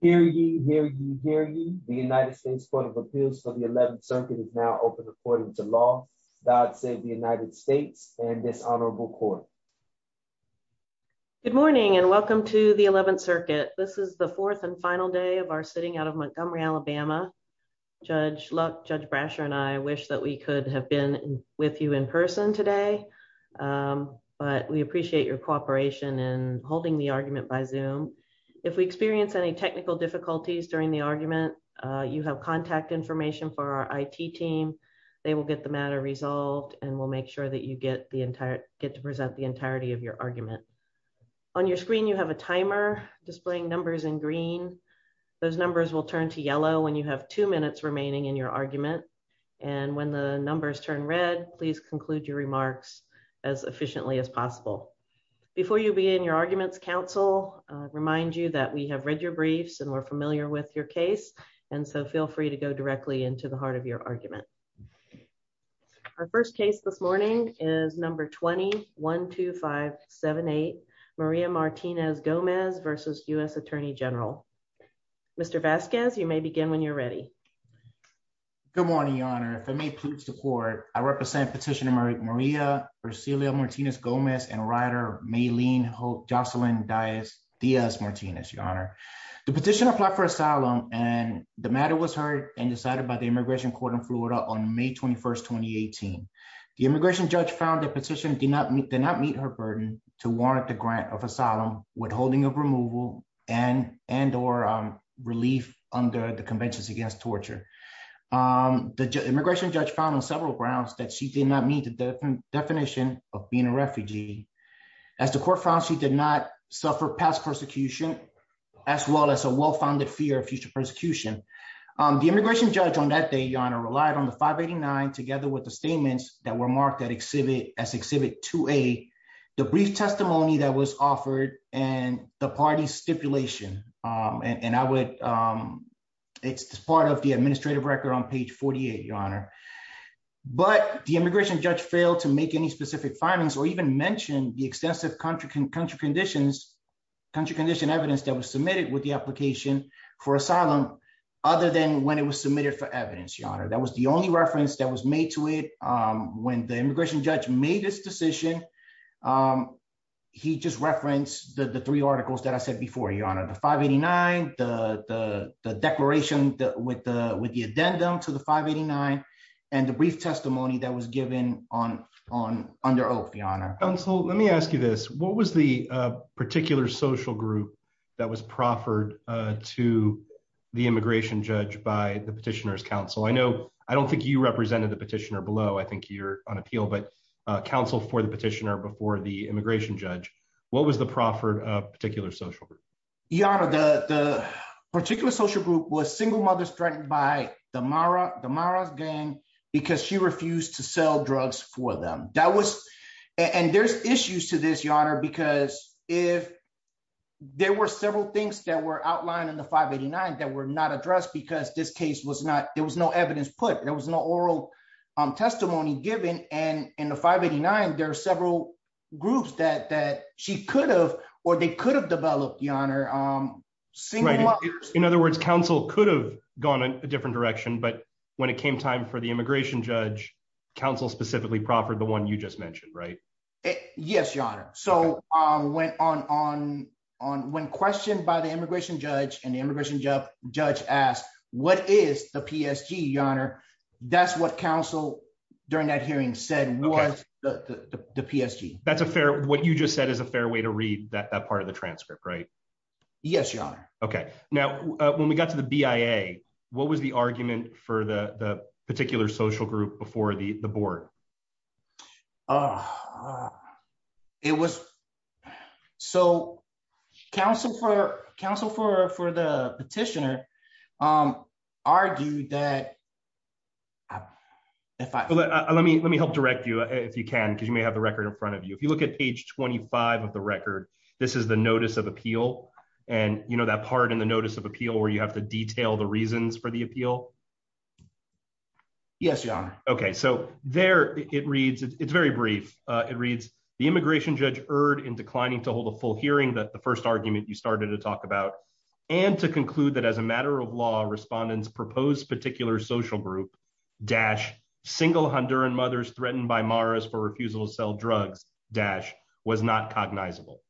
Hear ye, hear ye, hear ye. The United States Court of Appeals for the 11th Circuit is now open according to law. God save the United States and this honorable court. Good morning and welcome to the 11th Circuit. This is the fourth and final day of our sitting out of Montgomery, Alabama. Judge Luck, Judge Brasher, and I wish that we could have been with you in person today, but we appreciate your cooperation in holding the argument by Zoom. If we experience any technical difficulties during the argument, you have contact information for our IT team. They will get the matter resolved and we'll make sure that you get the entire, get to present the entirety of your argument. On your screen you have a timer displaying numbers in green. Those numbers will turn to yellow when you have two minutes remaining in your argument and when the numbers turn red, please conclude your remarks as efficiently as possible. Before you begin your arguments, counsel, I remind you that we have read your briefs and we're familiar with your case and so feel free to go directly into the heart of your argument. Our first case this morning is number 212578, Maria Martinez-Gomez versus U.S. Attorney General. Mr. Vasquez, you may begin when you're ready. Good morning, your honor. If it may please the court, I represent Petitioner Maria Ursula Martinez-Gomez and rioter Maylene Joselyn Diaz Martinez, your honor. The petition applied for asylum and the matter was heard and decided by the Immigration Court in Florida on May 21st, 2018. The immigration judge found the petition did not meet her burden to warrant the grant of asylum withholding of removal and or relief under the Conventions Against Torture. The immigration judge found on several grounds that she did not meet the definition of being a refugee. As the court found, she did not suffer past persecution as well as a well-founded fear of future persecution. The immigration judge on that day, your honor, relied on the 589 together with the statements that were marked as exhibit 2A, the brief testimony that was offered and the party's stipulation. And I would, it's part of the administrative record on page 48, your honor. But the immigration judge failed to make any specific findings or even mention the extensive country condition evidence that was submitted with the application for asylum other than when it was submitted for evidence, your honor. That was the only reference that was made to it. When the immigration judge made his decision, he just referenced the three articles that I said before, your honor. The 589, the declaration with the addendum to the 589 and the brief testimony that was given on, under oath, your honor. Counsel, let me ask you this. What was the particular social group that was proffered to the immigration judge by the petitioner's counsel? I don't think you represented the petitioner below. I think you're on appeal, but counsel for the petitioner before the immigration judge, what was the proffered of particular social group? Your honor, the particular social group was single mothers threatened by the Mara's gang because she refused to sell drugs for them. And there's issues to this, your honor, because if there were several things that were outlined in the 589 that were not put, there was no oral testimony given. And in the 589, there are several groups that she could have, or they could have developed, your honor. In other words, counsel could have gone in a different direction, but when it came time for the immigration judge, counsel specifically proffered the one you just mentioned, right? Yes, your honor. So when questioned by the immigration judge and the immigration judge asked, what is the PSG, your honor? That's what counsel during that hearing said was the PSG. That's a fair, what you just said is a fair way to read that part of the transcript, right? Yes, your honor. Okay. Now, when we got to the BIA, what was the argument for the petitioner argued that if I let me, let me help direct you if you can, because you may have the record in front of you. If you look at page 25 of the record, this is the notice of appeal. And you know, that part in the notice of appeal where you have to detail the reasons for the appeal. Yes, your honor. Okay. So there it reads, it's very brief. It reads the immigration judge erred in declining to hold a full hearing that the first argument you started to talk about, and to conclude that as a matter of law respondents proposed particular social group dash single Honduran mothers threatened by Mara's for refusal to sell drugs, dash was not cognizable.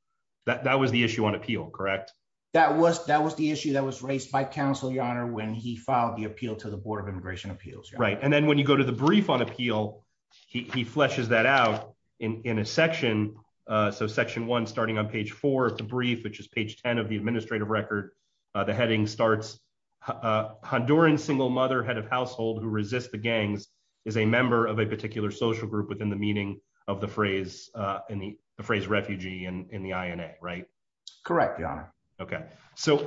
That was the issue on appeal, correct? That was, that was the issue that was raised by counsel, your honor, when he filed the appeal to the board of immigration appeals. Right. And then when you go to the brief on appeal, he fleshes that out in a section. So section one, starting on page four of the brief, which is page 10 of the administrative record, the heading starts Honduran single mother head of household who resist the gangs is a member of a particular social group within the meaning of the phrase in the phrase refugee and in the INA, right? Correct, your honor. Okay. So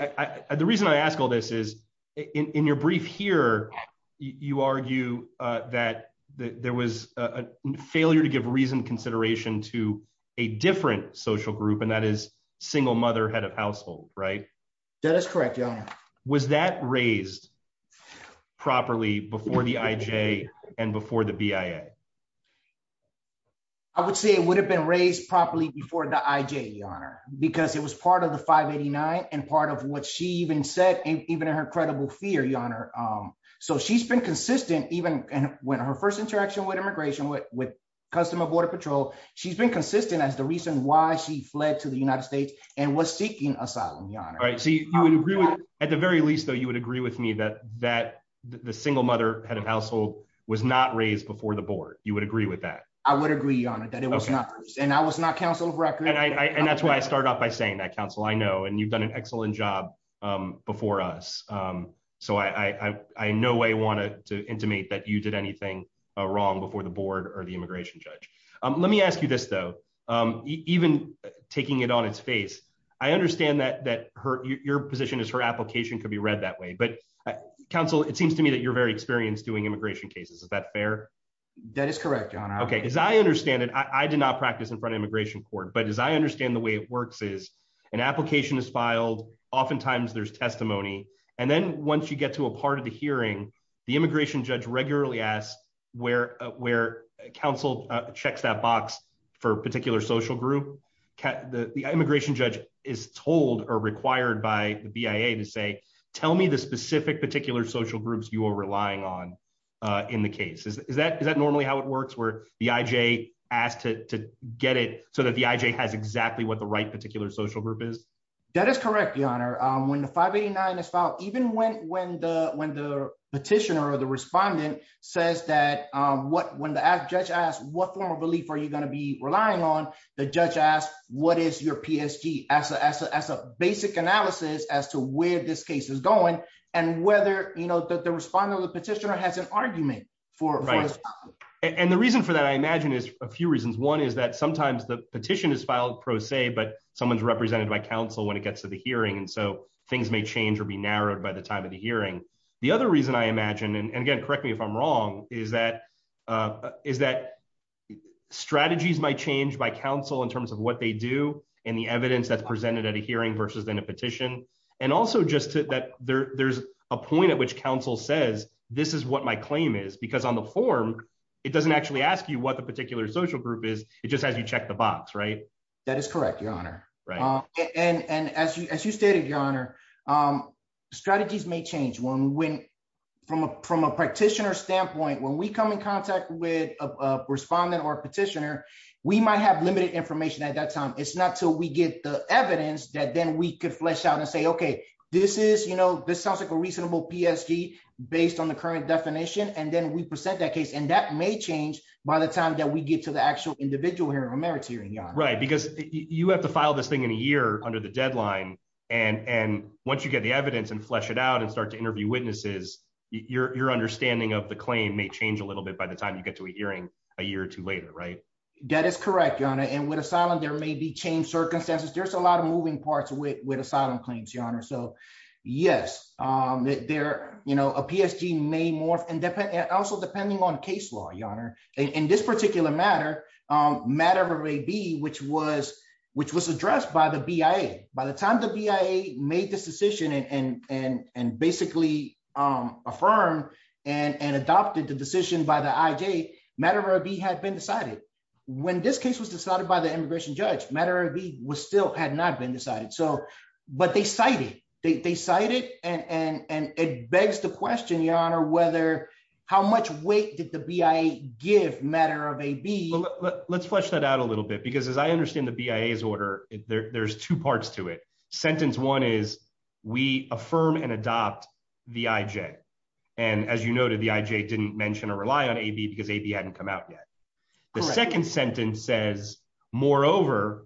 the reason I ask all this is in your brief here, you argue that there was a failure to give reason consideration to a different social group, and that is single mother head of household, right? That is correct, your honor. Was that raised properly before the IJ and before the BIA? I would say it would have been raised properly before the IJ, your honor, because it was part of the 589 and part of what she even said, even in her credible fear, your honor. So she's been consistent even when her first interaction with immigration, with customer border patrol, she's been consistent as the reason why she fled to the United States and was seeking asylum, your honor. Right. So you would agree with, at the very least, though, you would agree with me that that the single mother head of household was not raised before the board. You would agree with that? I would agree, your honor, that it was not. And I was not counsel of record. And that's why I start off by saying that, counsel, I know, and you've done an excellent job before us. So I in no way wanted to intimate that you did anything wrong before the board or the immigration judge. Let me ask you this, though. Even taking it on its face, I understand that your position is her application could be read that way. But counsel, it seems to me that you're very experienced doing immigration cases. Is that fair? That is correct, your honor. Okay. As I understand it, I did not practice in front court. But as I understand the way it works is an application is filed. Oftentimes there's testimony. And then once you get to a part of the hearing, the immigration judge regularly asks where counsel checks that box for a particular social group. The immigration judge is told or required by the BIA to say, tell me the specific particular social groups you are relying on in the case. Is that normally how it works where the IJ asked to get it so that the IJ has exactly what the right particular social group is? That is correct, your honor. When the 589 is filed, even when the petitioner or the respondent says that, when the judge asks what form of relief are you going to be relying on, the judge asks what is your PSG as a basic analysis as to where this case is going and whether the respondent or the petitioner has an argument for this problem. And the reason for that, I imagine, is a few reasons. One is that sometimes the petition is filed pro se, but someone's represented by counsel when it gets to the hearing. And so things may change or be narrowed by the time of the hearing. The other reason I imagine, and again, correct me if I'm wrong, is that strategies might change by counsel in terms of what they do and the evidence that's presented at a hearing versus in a petition. And also just that there's a point at which counsel says, this is what my claim is. Because on the form, it doesn't actually ask you what the particular social group is. It just has you check the box, right? That is correct, your honor. And as you stated, your honor, strategies may change. From a practitioner standpoint, when we come in contact with a respondent or a petitioner, we might have limited information at that time. It's not until we get the evidence that then we could flesh out and say, okay, this sounds like a reasonable PSG based on the current definition. And then we present that case. And that may change by the time that we get to the actual individual hearing or merits hearing, your honor. Right. Because you have to file this thing in a year under the deadline. And once you get the evidence and flesh it out and start to interview witnesses, your understanding of the claim may change a little bit by the time you get to a hearing a year or two later, right? That is correct, your honor. And with asylum, there may be changed circumstances. There's a lot of moving parts with asylum claims, your honor. So yes, a PSG may morph and also depending on case law, your honor. In this particular matter, matter of AB, which was addressed by the BIA. By the time the BIA made this decision and basically affirmed and adopted the decision by the when this case was decided by the immigration judge, matter of B was still had not been decided. But they cited, they cited and it begs the question, your honor, whether how much weight did the BIA give matter of AB? Let's flesh that out a little bit, because as I understand the BIA's order, there's two parts to it. Sentence one is we affirm and adopt the IJ. And as you noted, the IJ didn't mention or rely on AB because AB hadn't come out yet. The second sentence says, moreover,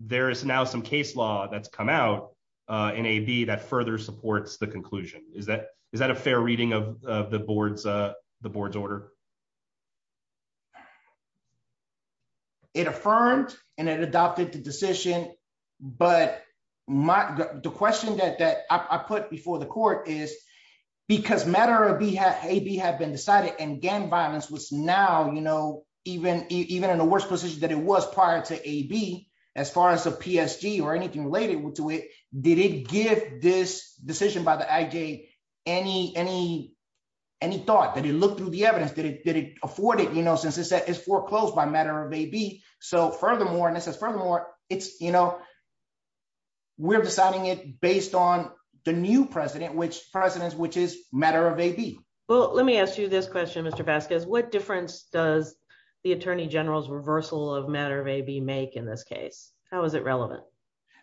there is now some case law that's come out in AB that further supports the conclusion. Is that a fair reading of the board's order? It affirmed and it adopted the decision. But the question that I put before the court is because matter of AB had been decided and gang violence was now, you know, even in the worst position that it was prior to AB, as far as the PSG or anything related to it, did it give this decision by the IJ any thought? Did it look through the evidence? Did it afford it, you know, since it's foreclosed by matter of AB? So furthermore, and this is furthermore, it's, you know, we're deciding it based on the new president, which presidents, which is matter of AB. Well, let me ask you this question, Mr. Vasquez, what difference does the attorney general's reversal of matter of AB make in this case? How is it relevant?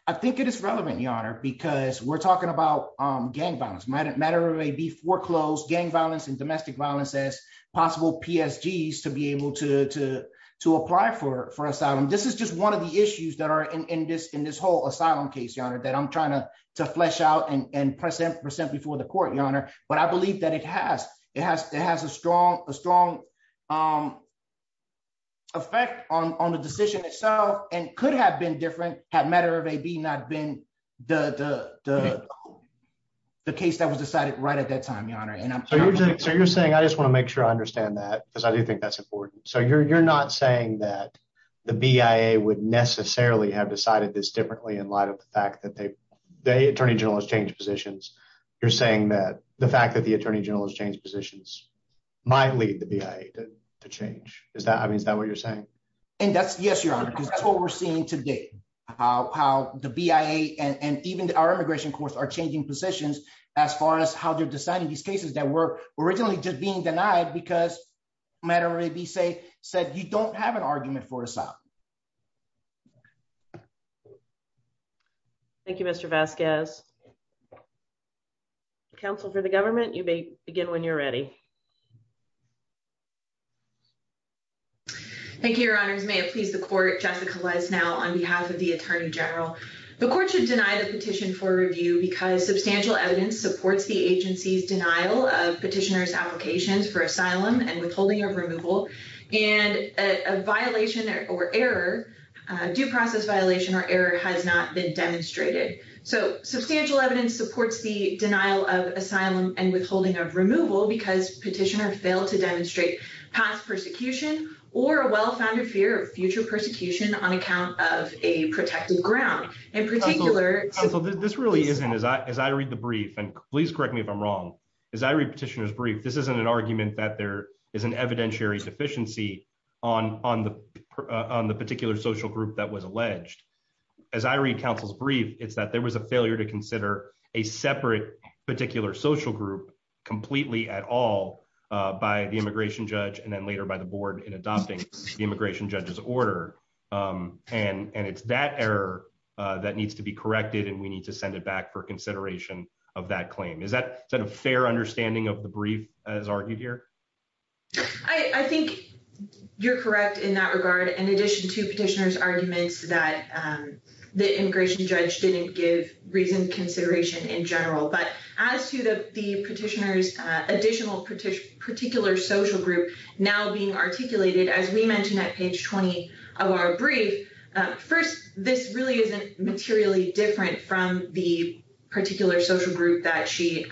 I think it is relevant, Your Honor, because we're talking about gang violence, matter of AB foreclosed gang violence and domestic violence as possible PSGs to be able to apply for asylum. This is just one of the issues that are in this, in this whole asylum case, Your Honor, that I'm trying to flesh out and present before the court, Your Honor. But I believe that it has, it has, it has a strong, a strong effect on the decision itself and could have been different had matter of AB not been the case that was decided right at that time, Your Honor. So you're saying, I just want to make sure I understand that because I do think that's important. So you're not saying that the BIA would necessarily have decided this differently in light of the fact that they, the attorney general has changed positions. You're saying that the fact that the attorney general has changed positions might lead the BIA to change. Is that, I mean, is that what you're saying? And that's yes, Your Honor, because that's what we're seeing today, how the BIA and even our immigration courts are changing positions as far as how they're deciding these cases that were originally just being denied because matter of AB say, said you don't have an argument for asylum. Thank you, Mr. Vasquez. Counsel for the government, you may begin when you're ready. Thank you, Your Honors. May it please the court, Jessica Lesnau on behalf of the attorney general. The court should deny the petition for review because substantial evidence supports the applications for asylum and withholding of removal and a violation or error, due process violation or error has not been demonstrated. So substantial evidence supports the denial of asylum and withholding of removal because petitioner failed to demonstrate past persecution or a well-founded fear of future persecution on account of a protected ground. In particular, this really isn't as I, as I read the brief and please correct me if I'm wrong. As I read petitioner's brief, this isn't an argument that there is an evidentiary deficiency on the particular social group that was alleged. As I read counsel's brief, it's that there was a failure to consider a separate particular social group completely at all by the immigration judge and then later by the board in adopting the immigration judge's order. And it's that error that needs to be corrected and we need to send it back for consideration of that claim. Is that, is that a fair understanding of the brief as argued here? I, I think you're correct in that regard. In addition to petitioner's arguments that the immigration judge didn't give reasoned consideration in general, but as to the petitioner's additional particular social group now being articulated, as we mentioned at page 20 of our brief, first, this really isn't materially different from the particular social group that she,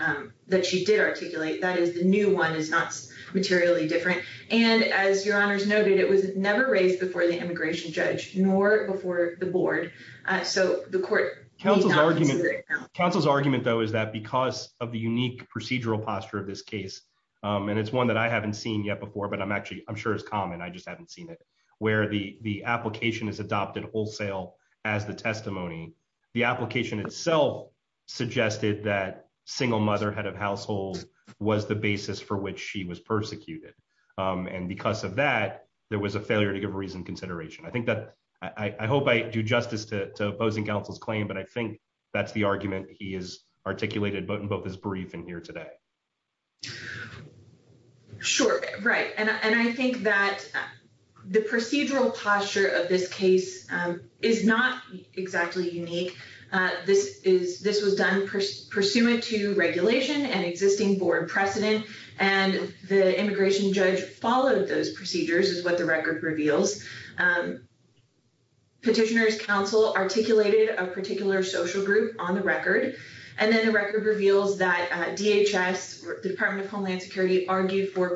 that she did articulate. That is the new one is not materially different. And as your honors noted, it was never raised before the immigration judge nor before the board. So the court. Counsel's argument, counsel's argument though, is that because of the unique procedural posture of this case and it's one that I haven't seen yet before, but I'm actually, I'm sure it's common. I just haven't seen it where the, the application is adopted wholesale as the testimony. The application itself suggested that single mother head of household was the basis for which she was persecuted. And because of that, there was a failure to give reasoned consideration. I think that I hope I do justice to opposing counsel's claim, but I think that's the argument he is the procedural posture of this case is not exactly unique. This is, this was done pursuant to regulation and existing board precedent. And the immigration judge followed those procedures is what the record reveals. Petitioners counsel articulated a particular social group on the record. And then the record reveals that DHS department of Homeland security argued for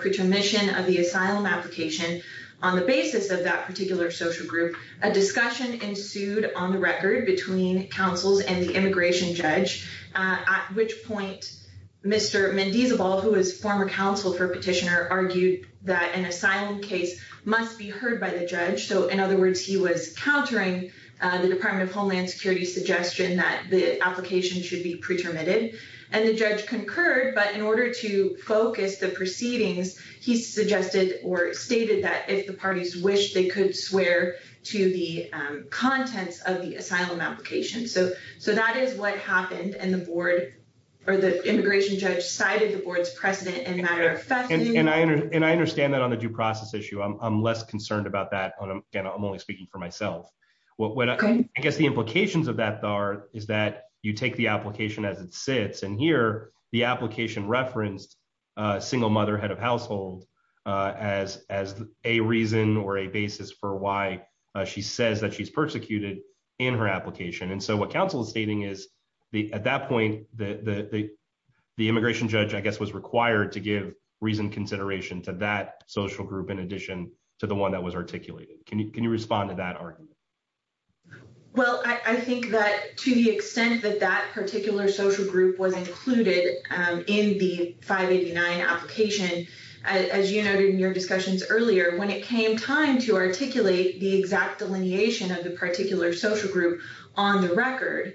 on the basis of that particular social group, a discussion ensued on the record between counsels and the immigration judge, at which point Mr. Mendez of all, who was former counsel for petitioner argued that an asylum case must be heard by the judge. So in other words, he was countering the department of Homeland security suggestion that the application should be pretermited and the judge concurred. But in order to focus the proceedings, he suggested or stated that if the parties wish they could swear to the contents of the asylum application. So, so that is what happened. And the board or the immigration judge cited the board's precedent and matter of fact, and I understand that on the due process issue, I'm less concerned about that. And again, I'm only speaking for myself. Well, when I guess the implications of that are, is that you take the application as it sits in here, the application referenced a single mother head of household as, as a reason or a basis for why she says that she's persecuted in her application. And so what counsel is stating is the, at that point, the, the, the immigration judge, I guess, was required to give reason consideration to that social group. In addition to the one that was articulated, can you, can you respond to that argument? Well, I think that to the extent that particular social group was included in the 589 application, as you noted in your discussions earlier, when it came time to articulate the exact delineation of the particular social group on the record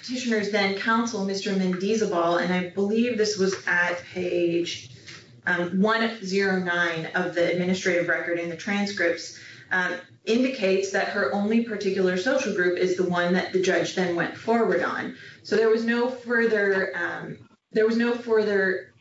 petitioners, then counsel, Mr. Mendeza ball. And I believe this was at page one zero nine of the administrative record in the transcripts that her only particular social group is the one that the judge then went forward on. So there was no further, there was no further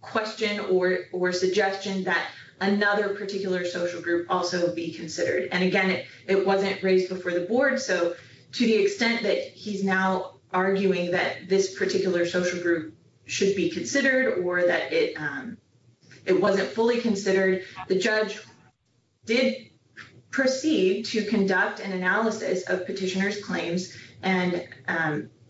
question or, or suggestion that another particular social group also be considered. And again, it, it wasn't raised before the board. So to the extent that he's now arguing that this particular social group should be considered or that it, it wasn't fully considered the judge did proceed to conduct an analysis of petitioners claims and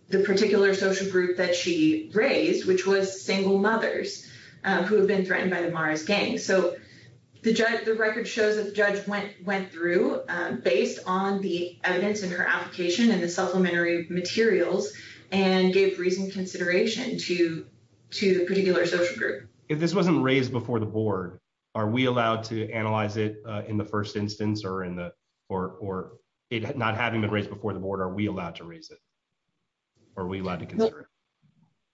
the particular social group that she raised, which was single mothers who have been threatened by the Morris gang. So the judge, the record shows that the judge went, went through based on the evidence in her application and the supplementary materials and gave reason consideration to, to the particular social group. If this wasn't raised before the board, are we allowed to analyze it in the first instance or in the, or, or it not having been raised before the board, are we allowed to raise it? Are we allowed to consider it?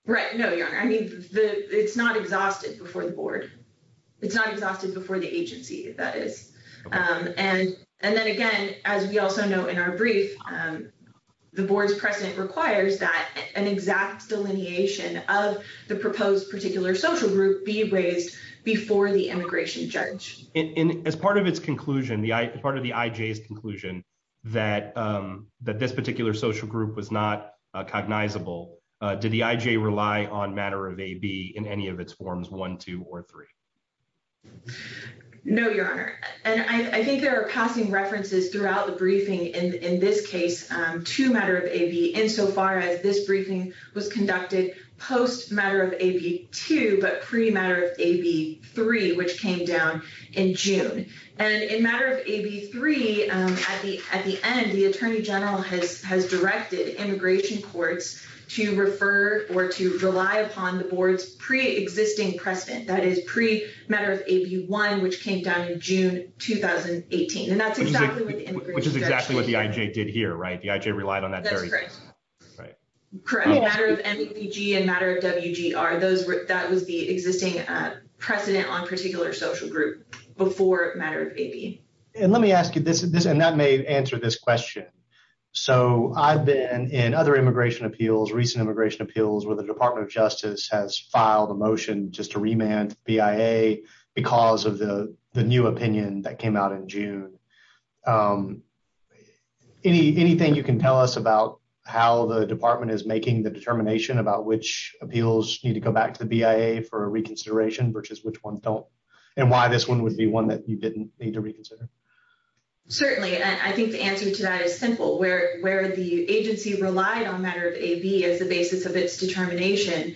Right? No, I mean, the, it's not exhausted before the board. It's not exhausted before the agency that is. And, and then again, as we also know in our brief the board's precedent requires that an exact delineation of the proposed particular social group be raised before the immigration judge. And as part of its conclusion, the part of the IJ's conclusion that that this particular social group was not cognizable. Did the IJ rely on matter of AB in any of its forms one, two, or three? No, your Honor. And I think there are passing references throughout the briefing in this case to matter of AB insofar as this briefing was conducted post matter of AB two, but pre matter of AB three, which came down in June and in matter of AB three at the, at the end, the attorney general has, has directed immigration courts to refer or to rely upon the board's pre-existing precedent that is pre matter of AB one, which came down in June, 2018. And that's exactly what the immigration judge did. Which is exactly what the IJ did here, right? The IJ relied on that. Right. Correct. Matter of MVG and matter of WGR, those were, that was the existing precedent on particular social group before matter of AB. And let me ask you this, this, and that may answer this question. So I've been in other immigration appeals, recent immigration appeals, where the department of justice has filed a motion just to remand BIA because of the, the new opinion that came out in June. Any, anything you can tell us about how the department is making the determination about which appeals need to go back to the BIA for a reconsideration versus which ones don't and why this one would be one that you didn't need to reconsider? Certainly. I think the answer to that is simple where, where the agency relied on matter of AB as the basis of its determination,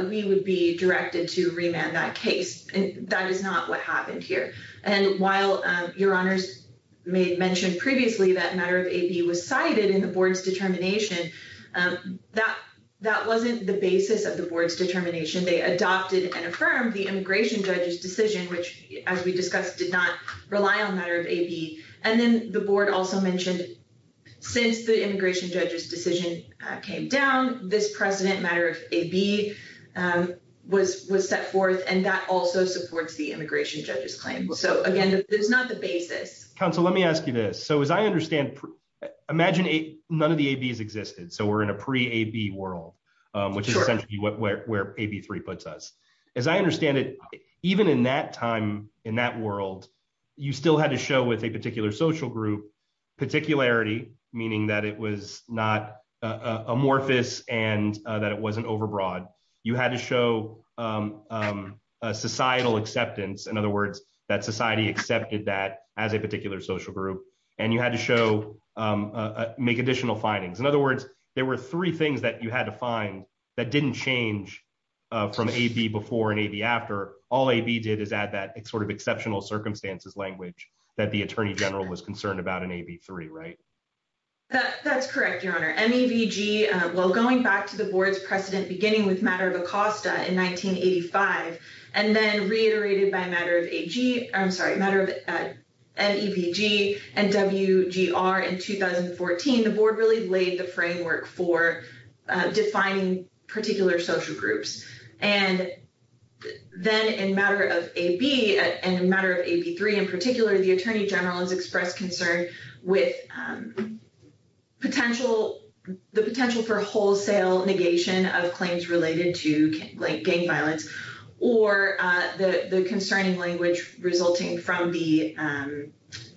we would be directed to remand that case. And that is not what happened here. And while your honors may have mentioned previously that matter of AB was cited in the board's determination, that, that wasn't the basis of the board's determination. They adopted and affirmed the immigration judge's decision, which as we discussed, did not rely on matter of AB. And then the board also mentioned since the immigration judge's decision came down, precedent matter of AB was, was set forth and that also supports the immigration judge's claim. So again, there's not the basis. Counsel, let me ask you this. So as I understand, imagine none of the ABs existed. So we're in a pre AB world, which is essentially where, where AB three puts us, as I understand it, even in that time in that world, you still had to show with a particular social group, particularity, meaning that it was not amorphous and that it wasn't overbroad. You had to show societal acceptance. In other words, that society accepted that as a particular social group, and you had to show make additional findings. In other words, there were three things that you had to find that didn't change from AB before and AB after all AB did is add that sort of exceptional circumstances language that the attorney general was concerned about an AB three, right? That that's correct. Your honor, MEVG. Well, going back to the board's precedent, beginning with matter of Acosta in 1985, and then reiterated by matter of AG, I'm sorry, matter of MEVG and WGR in 2014, the board really laid the framework for defining particular social groups. And then in matter of AB and the matter of AB three, in particular, the attorney general has expressed concern with potential, the potential for wholesale negation of claims related to gang violence or the concerning language resulting from the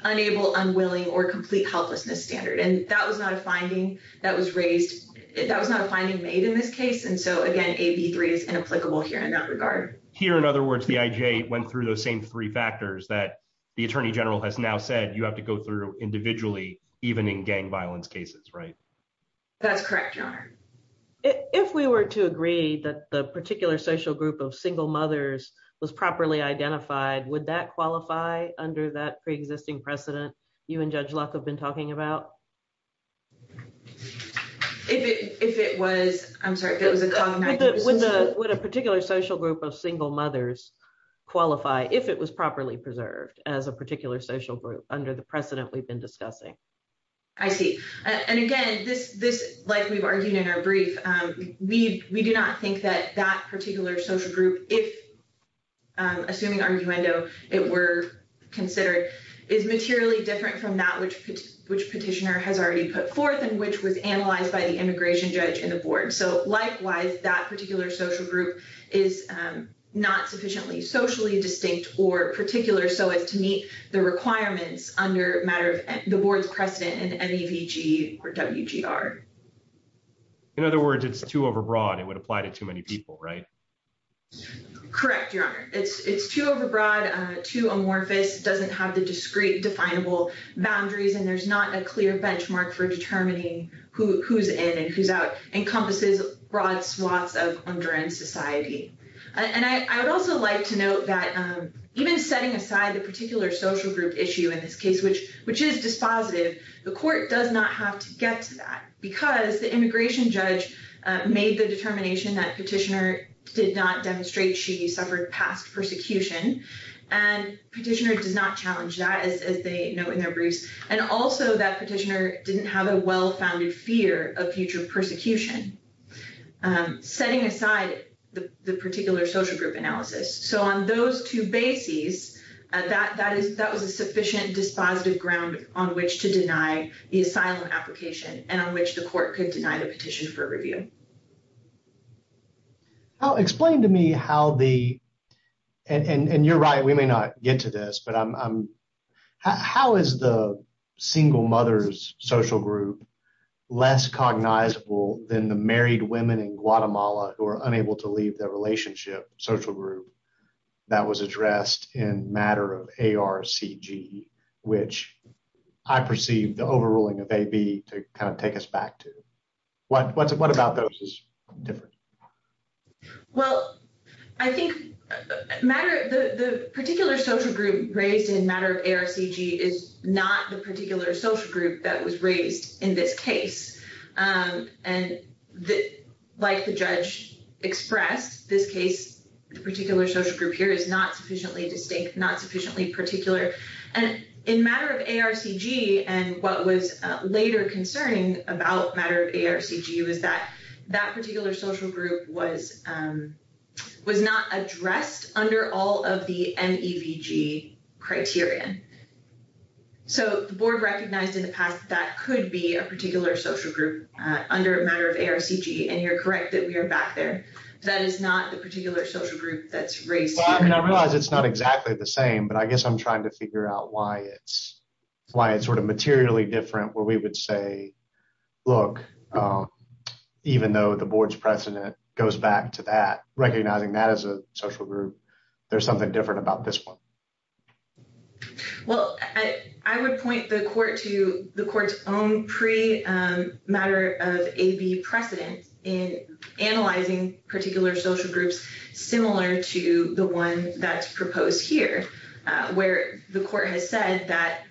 unable, unwilling, or complete helplessness standard. And that was not a finding that was raised. That was not a finding made in this case. And so again, AB three is inapplicable here in that regard. Here in other words, the IJ went through those same three factors that the attorney general has now said you have to go through individually, even in gang violence cases, right? That's correct, your honor. If we were to agree that the particular social group of single mothers was properly identified, would that qualify under that preexisting precedent you and Judge Locke have been talking about? If it, if it was, I'm sorry, if it was a cognitive... Would a particular social group of single mothers qualify if it was properly preserved as a particular social group under the precedent we've been discussing? I see. And again, this, this, like we've argued in our brief, we do not think that that particular social group, if, assuming arguendo, it were considered, is materially different from that which, which petitioner has already put forth and which was analyzed by the immigration judge and the board. So likewise, that particular social group is not sufficiently socially distinct or particular so as to meet the requirements under matter of the board's precedent in MEVG or WGR. In other words, it's too overbroad. It would apply to too many people, right? Correct, your honor. It's, it's too overbroad, too amorphous, doesn't have the discrete definable boundaries, and there's not a clear benchmark for determining who, who's in and who's out, encompasses broad swaths of under end society. And I, I would also like to note that even setting aside the particular social group issue in this case, which, which is dispositive, the court does not have to get to that because the immigration judge made the determination that petitioner did not demonstrate she suffered past persecution, and petitioner does not challenge that as, as they know in their briefs, and also that petitioner didn't have a well-founded fear of future persecution. Setting aside the, the particular social group analysis, so on those two bases, that, that is, that was a sufficient dispositive ground on which to deny the asylum application and on which the court could deny the petition for review. How, explain to me how the, and, and you're right, we may not get to this, but I'm, I'm, how is the single mother's social group less cognizable than the married women in Guatemala who are unable to leave their relationship social group that was addressed in matter of ARCG, which I perceive the overruling of AB to kind of take us back to? What, what's, what about those is different? Well, I think matter, the, the particular social group raised in matter of ARCG is not the particular social group that was raised in this case. And like the judge expressed, this case, the particular social group here is not sufficiently distinct, not sufficiently particular. And in matter of ARCG, and what was later concerning about matter of ARCG was that, that particular social group was, was not addressed under all of the MEVG criterion. So the board recognized in the past, that could be a particular social group under matter of ARCG. And you're correct that we are back there. That is not the particular social group that's raised. I realize it's not exactly the same, but I guess I'm trying to figure out why it's, why it's sort of materially different where we would say, look, even though the board's precedent goes back to that, recognizing that as a social group, there's something different about this one. Well, I would point the court to the court's own pre matter of AB precedent in analyzing particular social groups, similar to the one that's proposed here, where the court has said that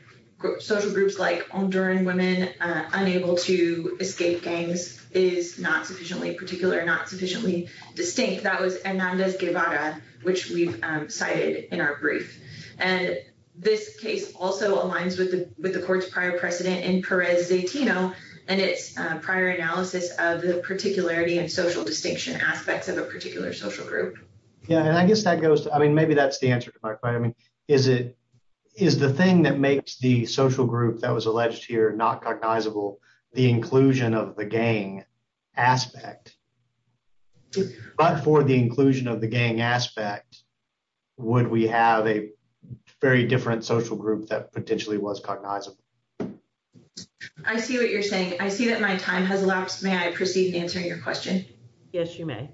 social groups like Honduran women unable to escape gangs is not sufficiently particular, not sufficiently distinct. That was Hernandez Guevara, which we've cited in our brief. And this case also aligns with the, with the court's prior precedent in Perez Zatino and its prior analysis of the particularity and social distinction aspects of a particular social group. Yeah. And I guess that goes to, I mean, maybe that's the answer to my question. I mean, is it, is the thing that makes the social group that was alleged here, not cognizable, the inclusion of the gang aspect, but for the inclusion of the gang aspect, would we have a very different social group that potentially was cognizable? I see what you're saying. I see that my time has elapsed. May I proceed answering your question? Yes, you may.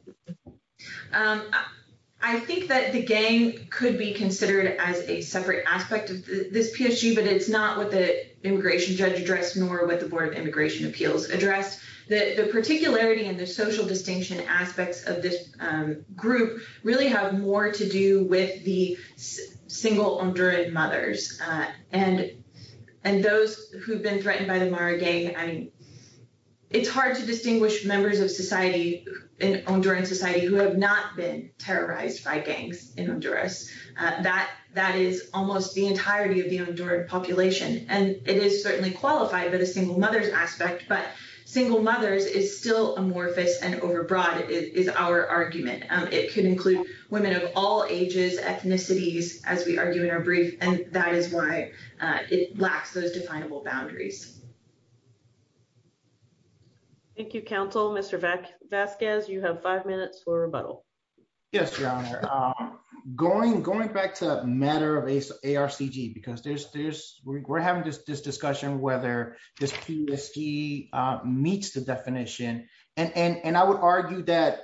I think that the gang could be considered as a separate aspect of this PSG, but it's not what the immigration judge addressed, nor what the board of immigration appeals addressed. The particularity and the social distinction aspects of this group really have more to do with the single Honduran mothers and those who've been threatened by the Mara gang. I mean, it's hard to distinguish members of society in Honduran society who have not been terrorized by gangs in Honduras. That is almost the entirety of the Honduran population. And it is certainly qualified, but a single mother's aspect, but single mothers is still amorphous and overbroad, is our argument. It could include women of all ages, ethnicities, as we argue in our brief, and that is why it lacks those definable boundaries. Thank you, counsel. Mr. Vasquez, you have five minutes for rebuttal. Yes, Your Honor. Going back to the matter of ARCG, because we're having this discussion, whether this PSG meets the definition, and I would argue that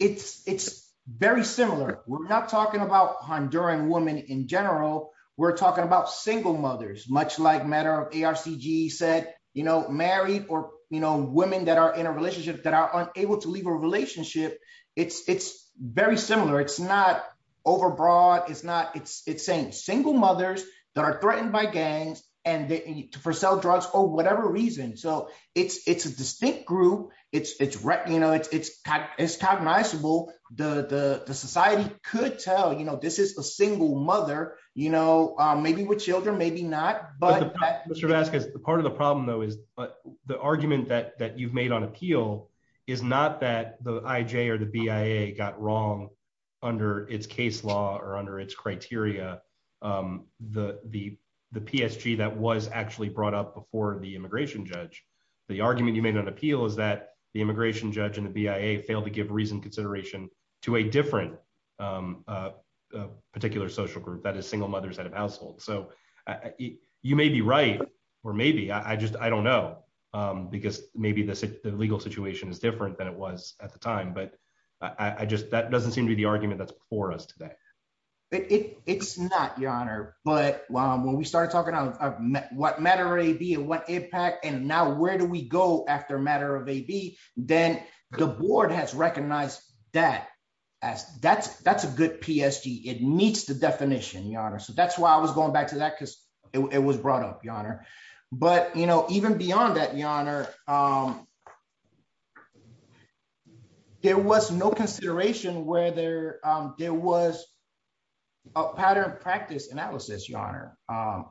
it's very similar. We're not talking about Honduran women in general. We're talking about single mothers, much like matter of ARCG said, married or women that are in a relationship that are unable to leave a relationship, it's very similar. It's not overbroad. It's saying single mothers that are threatened by gangs for sell drugs or whatever reason. So it's a distinct group. It's recognizable. The society could tell this is a single mother, maybe with children, maybe not. Mr. Vasquez, part of the problem, though, is the argument that you've made on appeal is not that the IJ or the BIA got wrong under its case law or under its criteria, the PSG that was actually brought up before the immigration judge. The argument you made on appeal is that the immigration judge and the BIA failed to give reasoned consideration to a different particular social group that is single mothers out of household. So you may be right or maybe I just I don't know, because maybe the legal situation is different than it was at the time. But I just that doesn't seem to be the argument that's before us today. It's not, your honor. But when we started talking about what matter AB and what impact and now where do we go after matter of AB, then the board has recognized that as that's that's a good PSG. It meets the definition, your honor. So that's why I was going back to that, because it was brought up, your honor. But, you know, even beyond that, your honor. There was no consideration where there there was a pattern of practice analysis, your honor.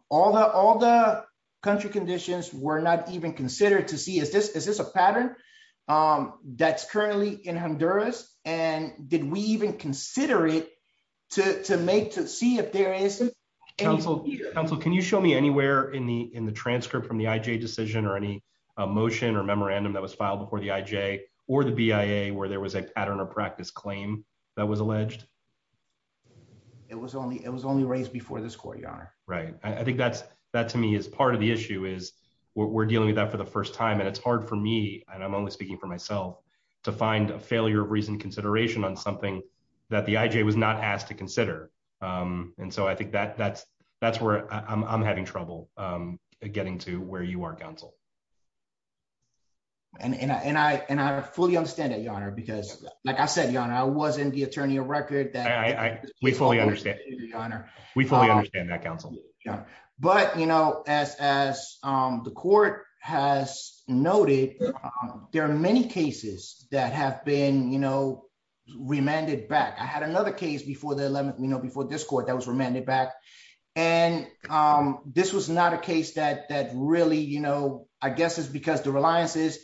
All the country conditions were not even considered to see is this is this a pattern on that's currently in Honduras. And did we even consider it to make to see if there is counsel? Can you show me anywhere in the in the transcript from the IJ decision or any motion or memorandum that was filed before the IJ or the BIA where there was a pattern of practice claim that was alleged? It was only it was only raised before this court, your honor. Right. I think that's that to me is part of the issue is we're dealing with that for the first time and it's hard for me and I'm only speaking for myself to find a failure of recent consideration on something that the IJ was not asked to consider. And so I think that that's that's where I'm having trouble getting to where you are, counsel. And I and I fully understand that, your honor, because, like I said, your honor, I was in the attorney of record that I fully honor. We fully understand that, counsel. But, you know, as as the court has noted, there are many cases that have been, you know, remanded back. I had another case before the 11th, you know, before this court that was remanded back. And this was not a case that that really, you know, I guess is because the reliance is.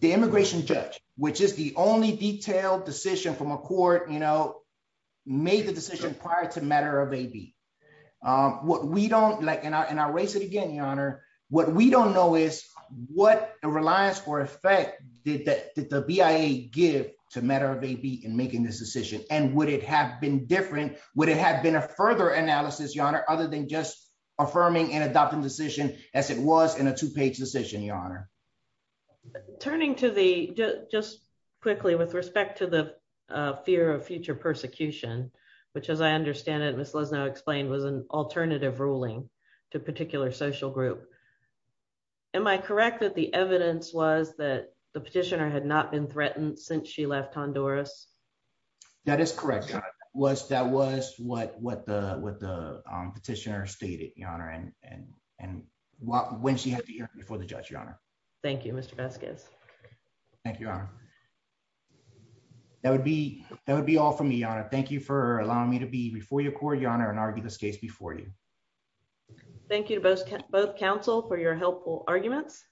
The immigration judge, which is the only detailed decision from a court, you know, made the decision prior to matter of a B. What we don't like in our race again, your honor, what we don't know is what a reliance for effect did that the BIA give to matter of a B in making this decision and would it have been different? Would it have been a further analysis, your honor, other than just affirming and adopting decision as it was in a two page decision, your honor? But turning to the just quickly with respect to the fear of future persecution, which, as I understand it, was now explained was an alternative ruling to particular social group. Am I correct that the evidence was that the petitioner had not been threatened since she left Honduras? That is correct. Was that was what what the what the petitioner stated, your honor, and and and what when she had before the judge, your honor? Thank you, Mr. Vasquez. Thank you. That would be that would be all for me on it. Thank you for allowing me to be before your court, your honor, and argue this case before you. Thank you to both both counsel for your helpful arguments.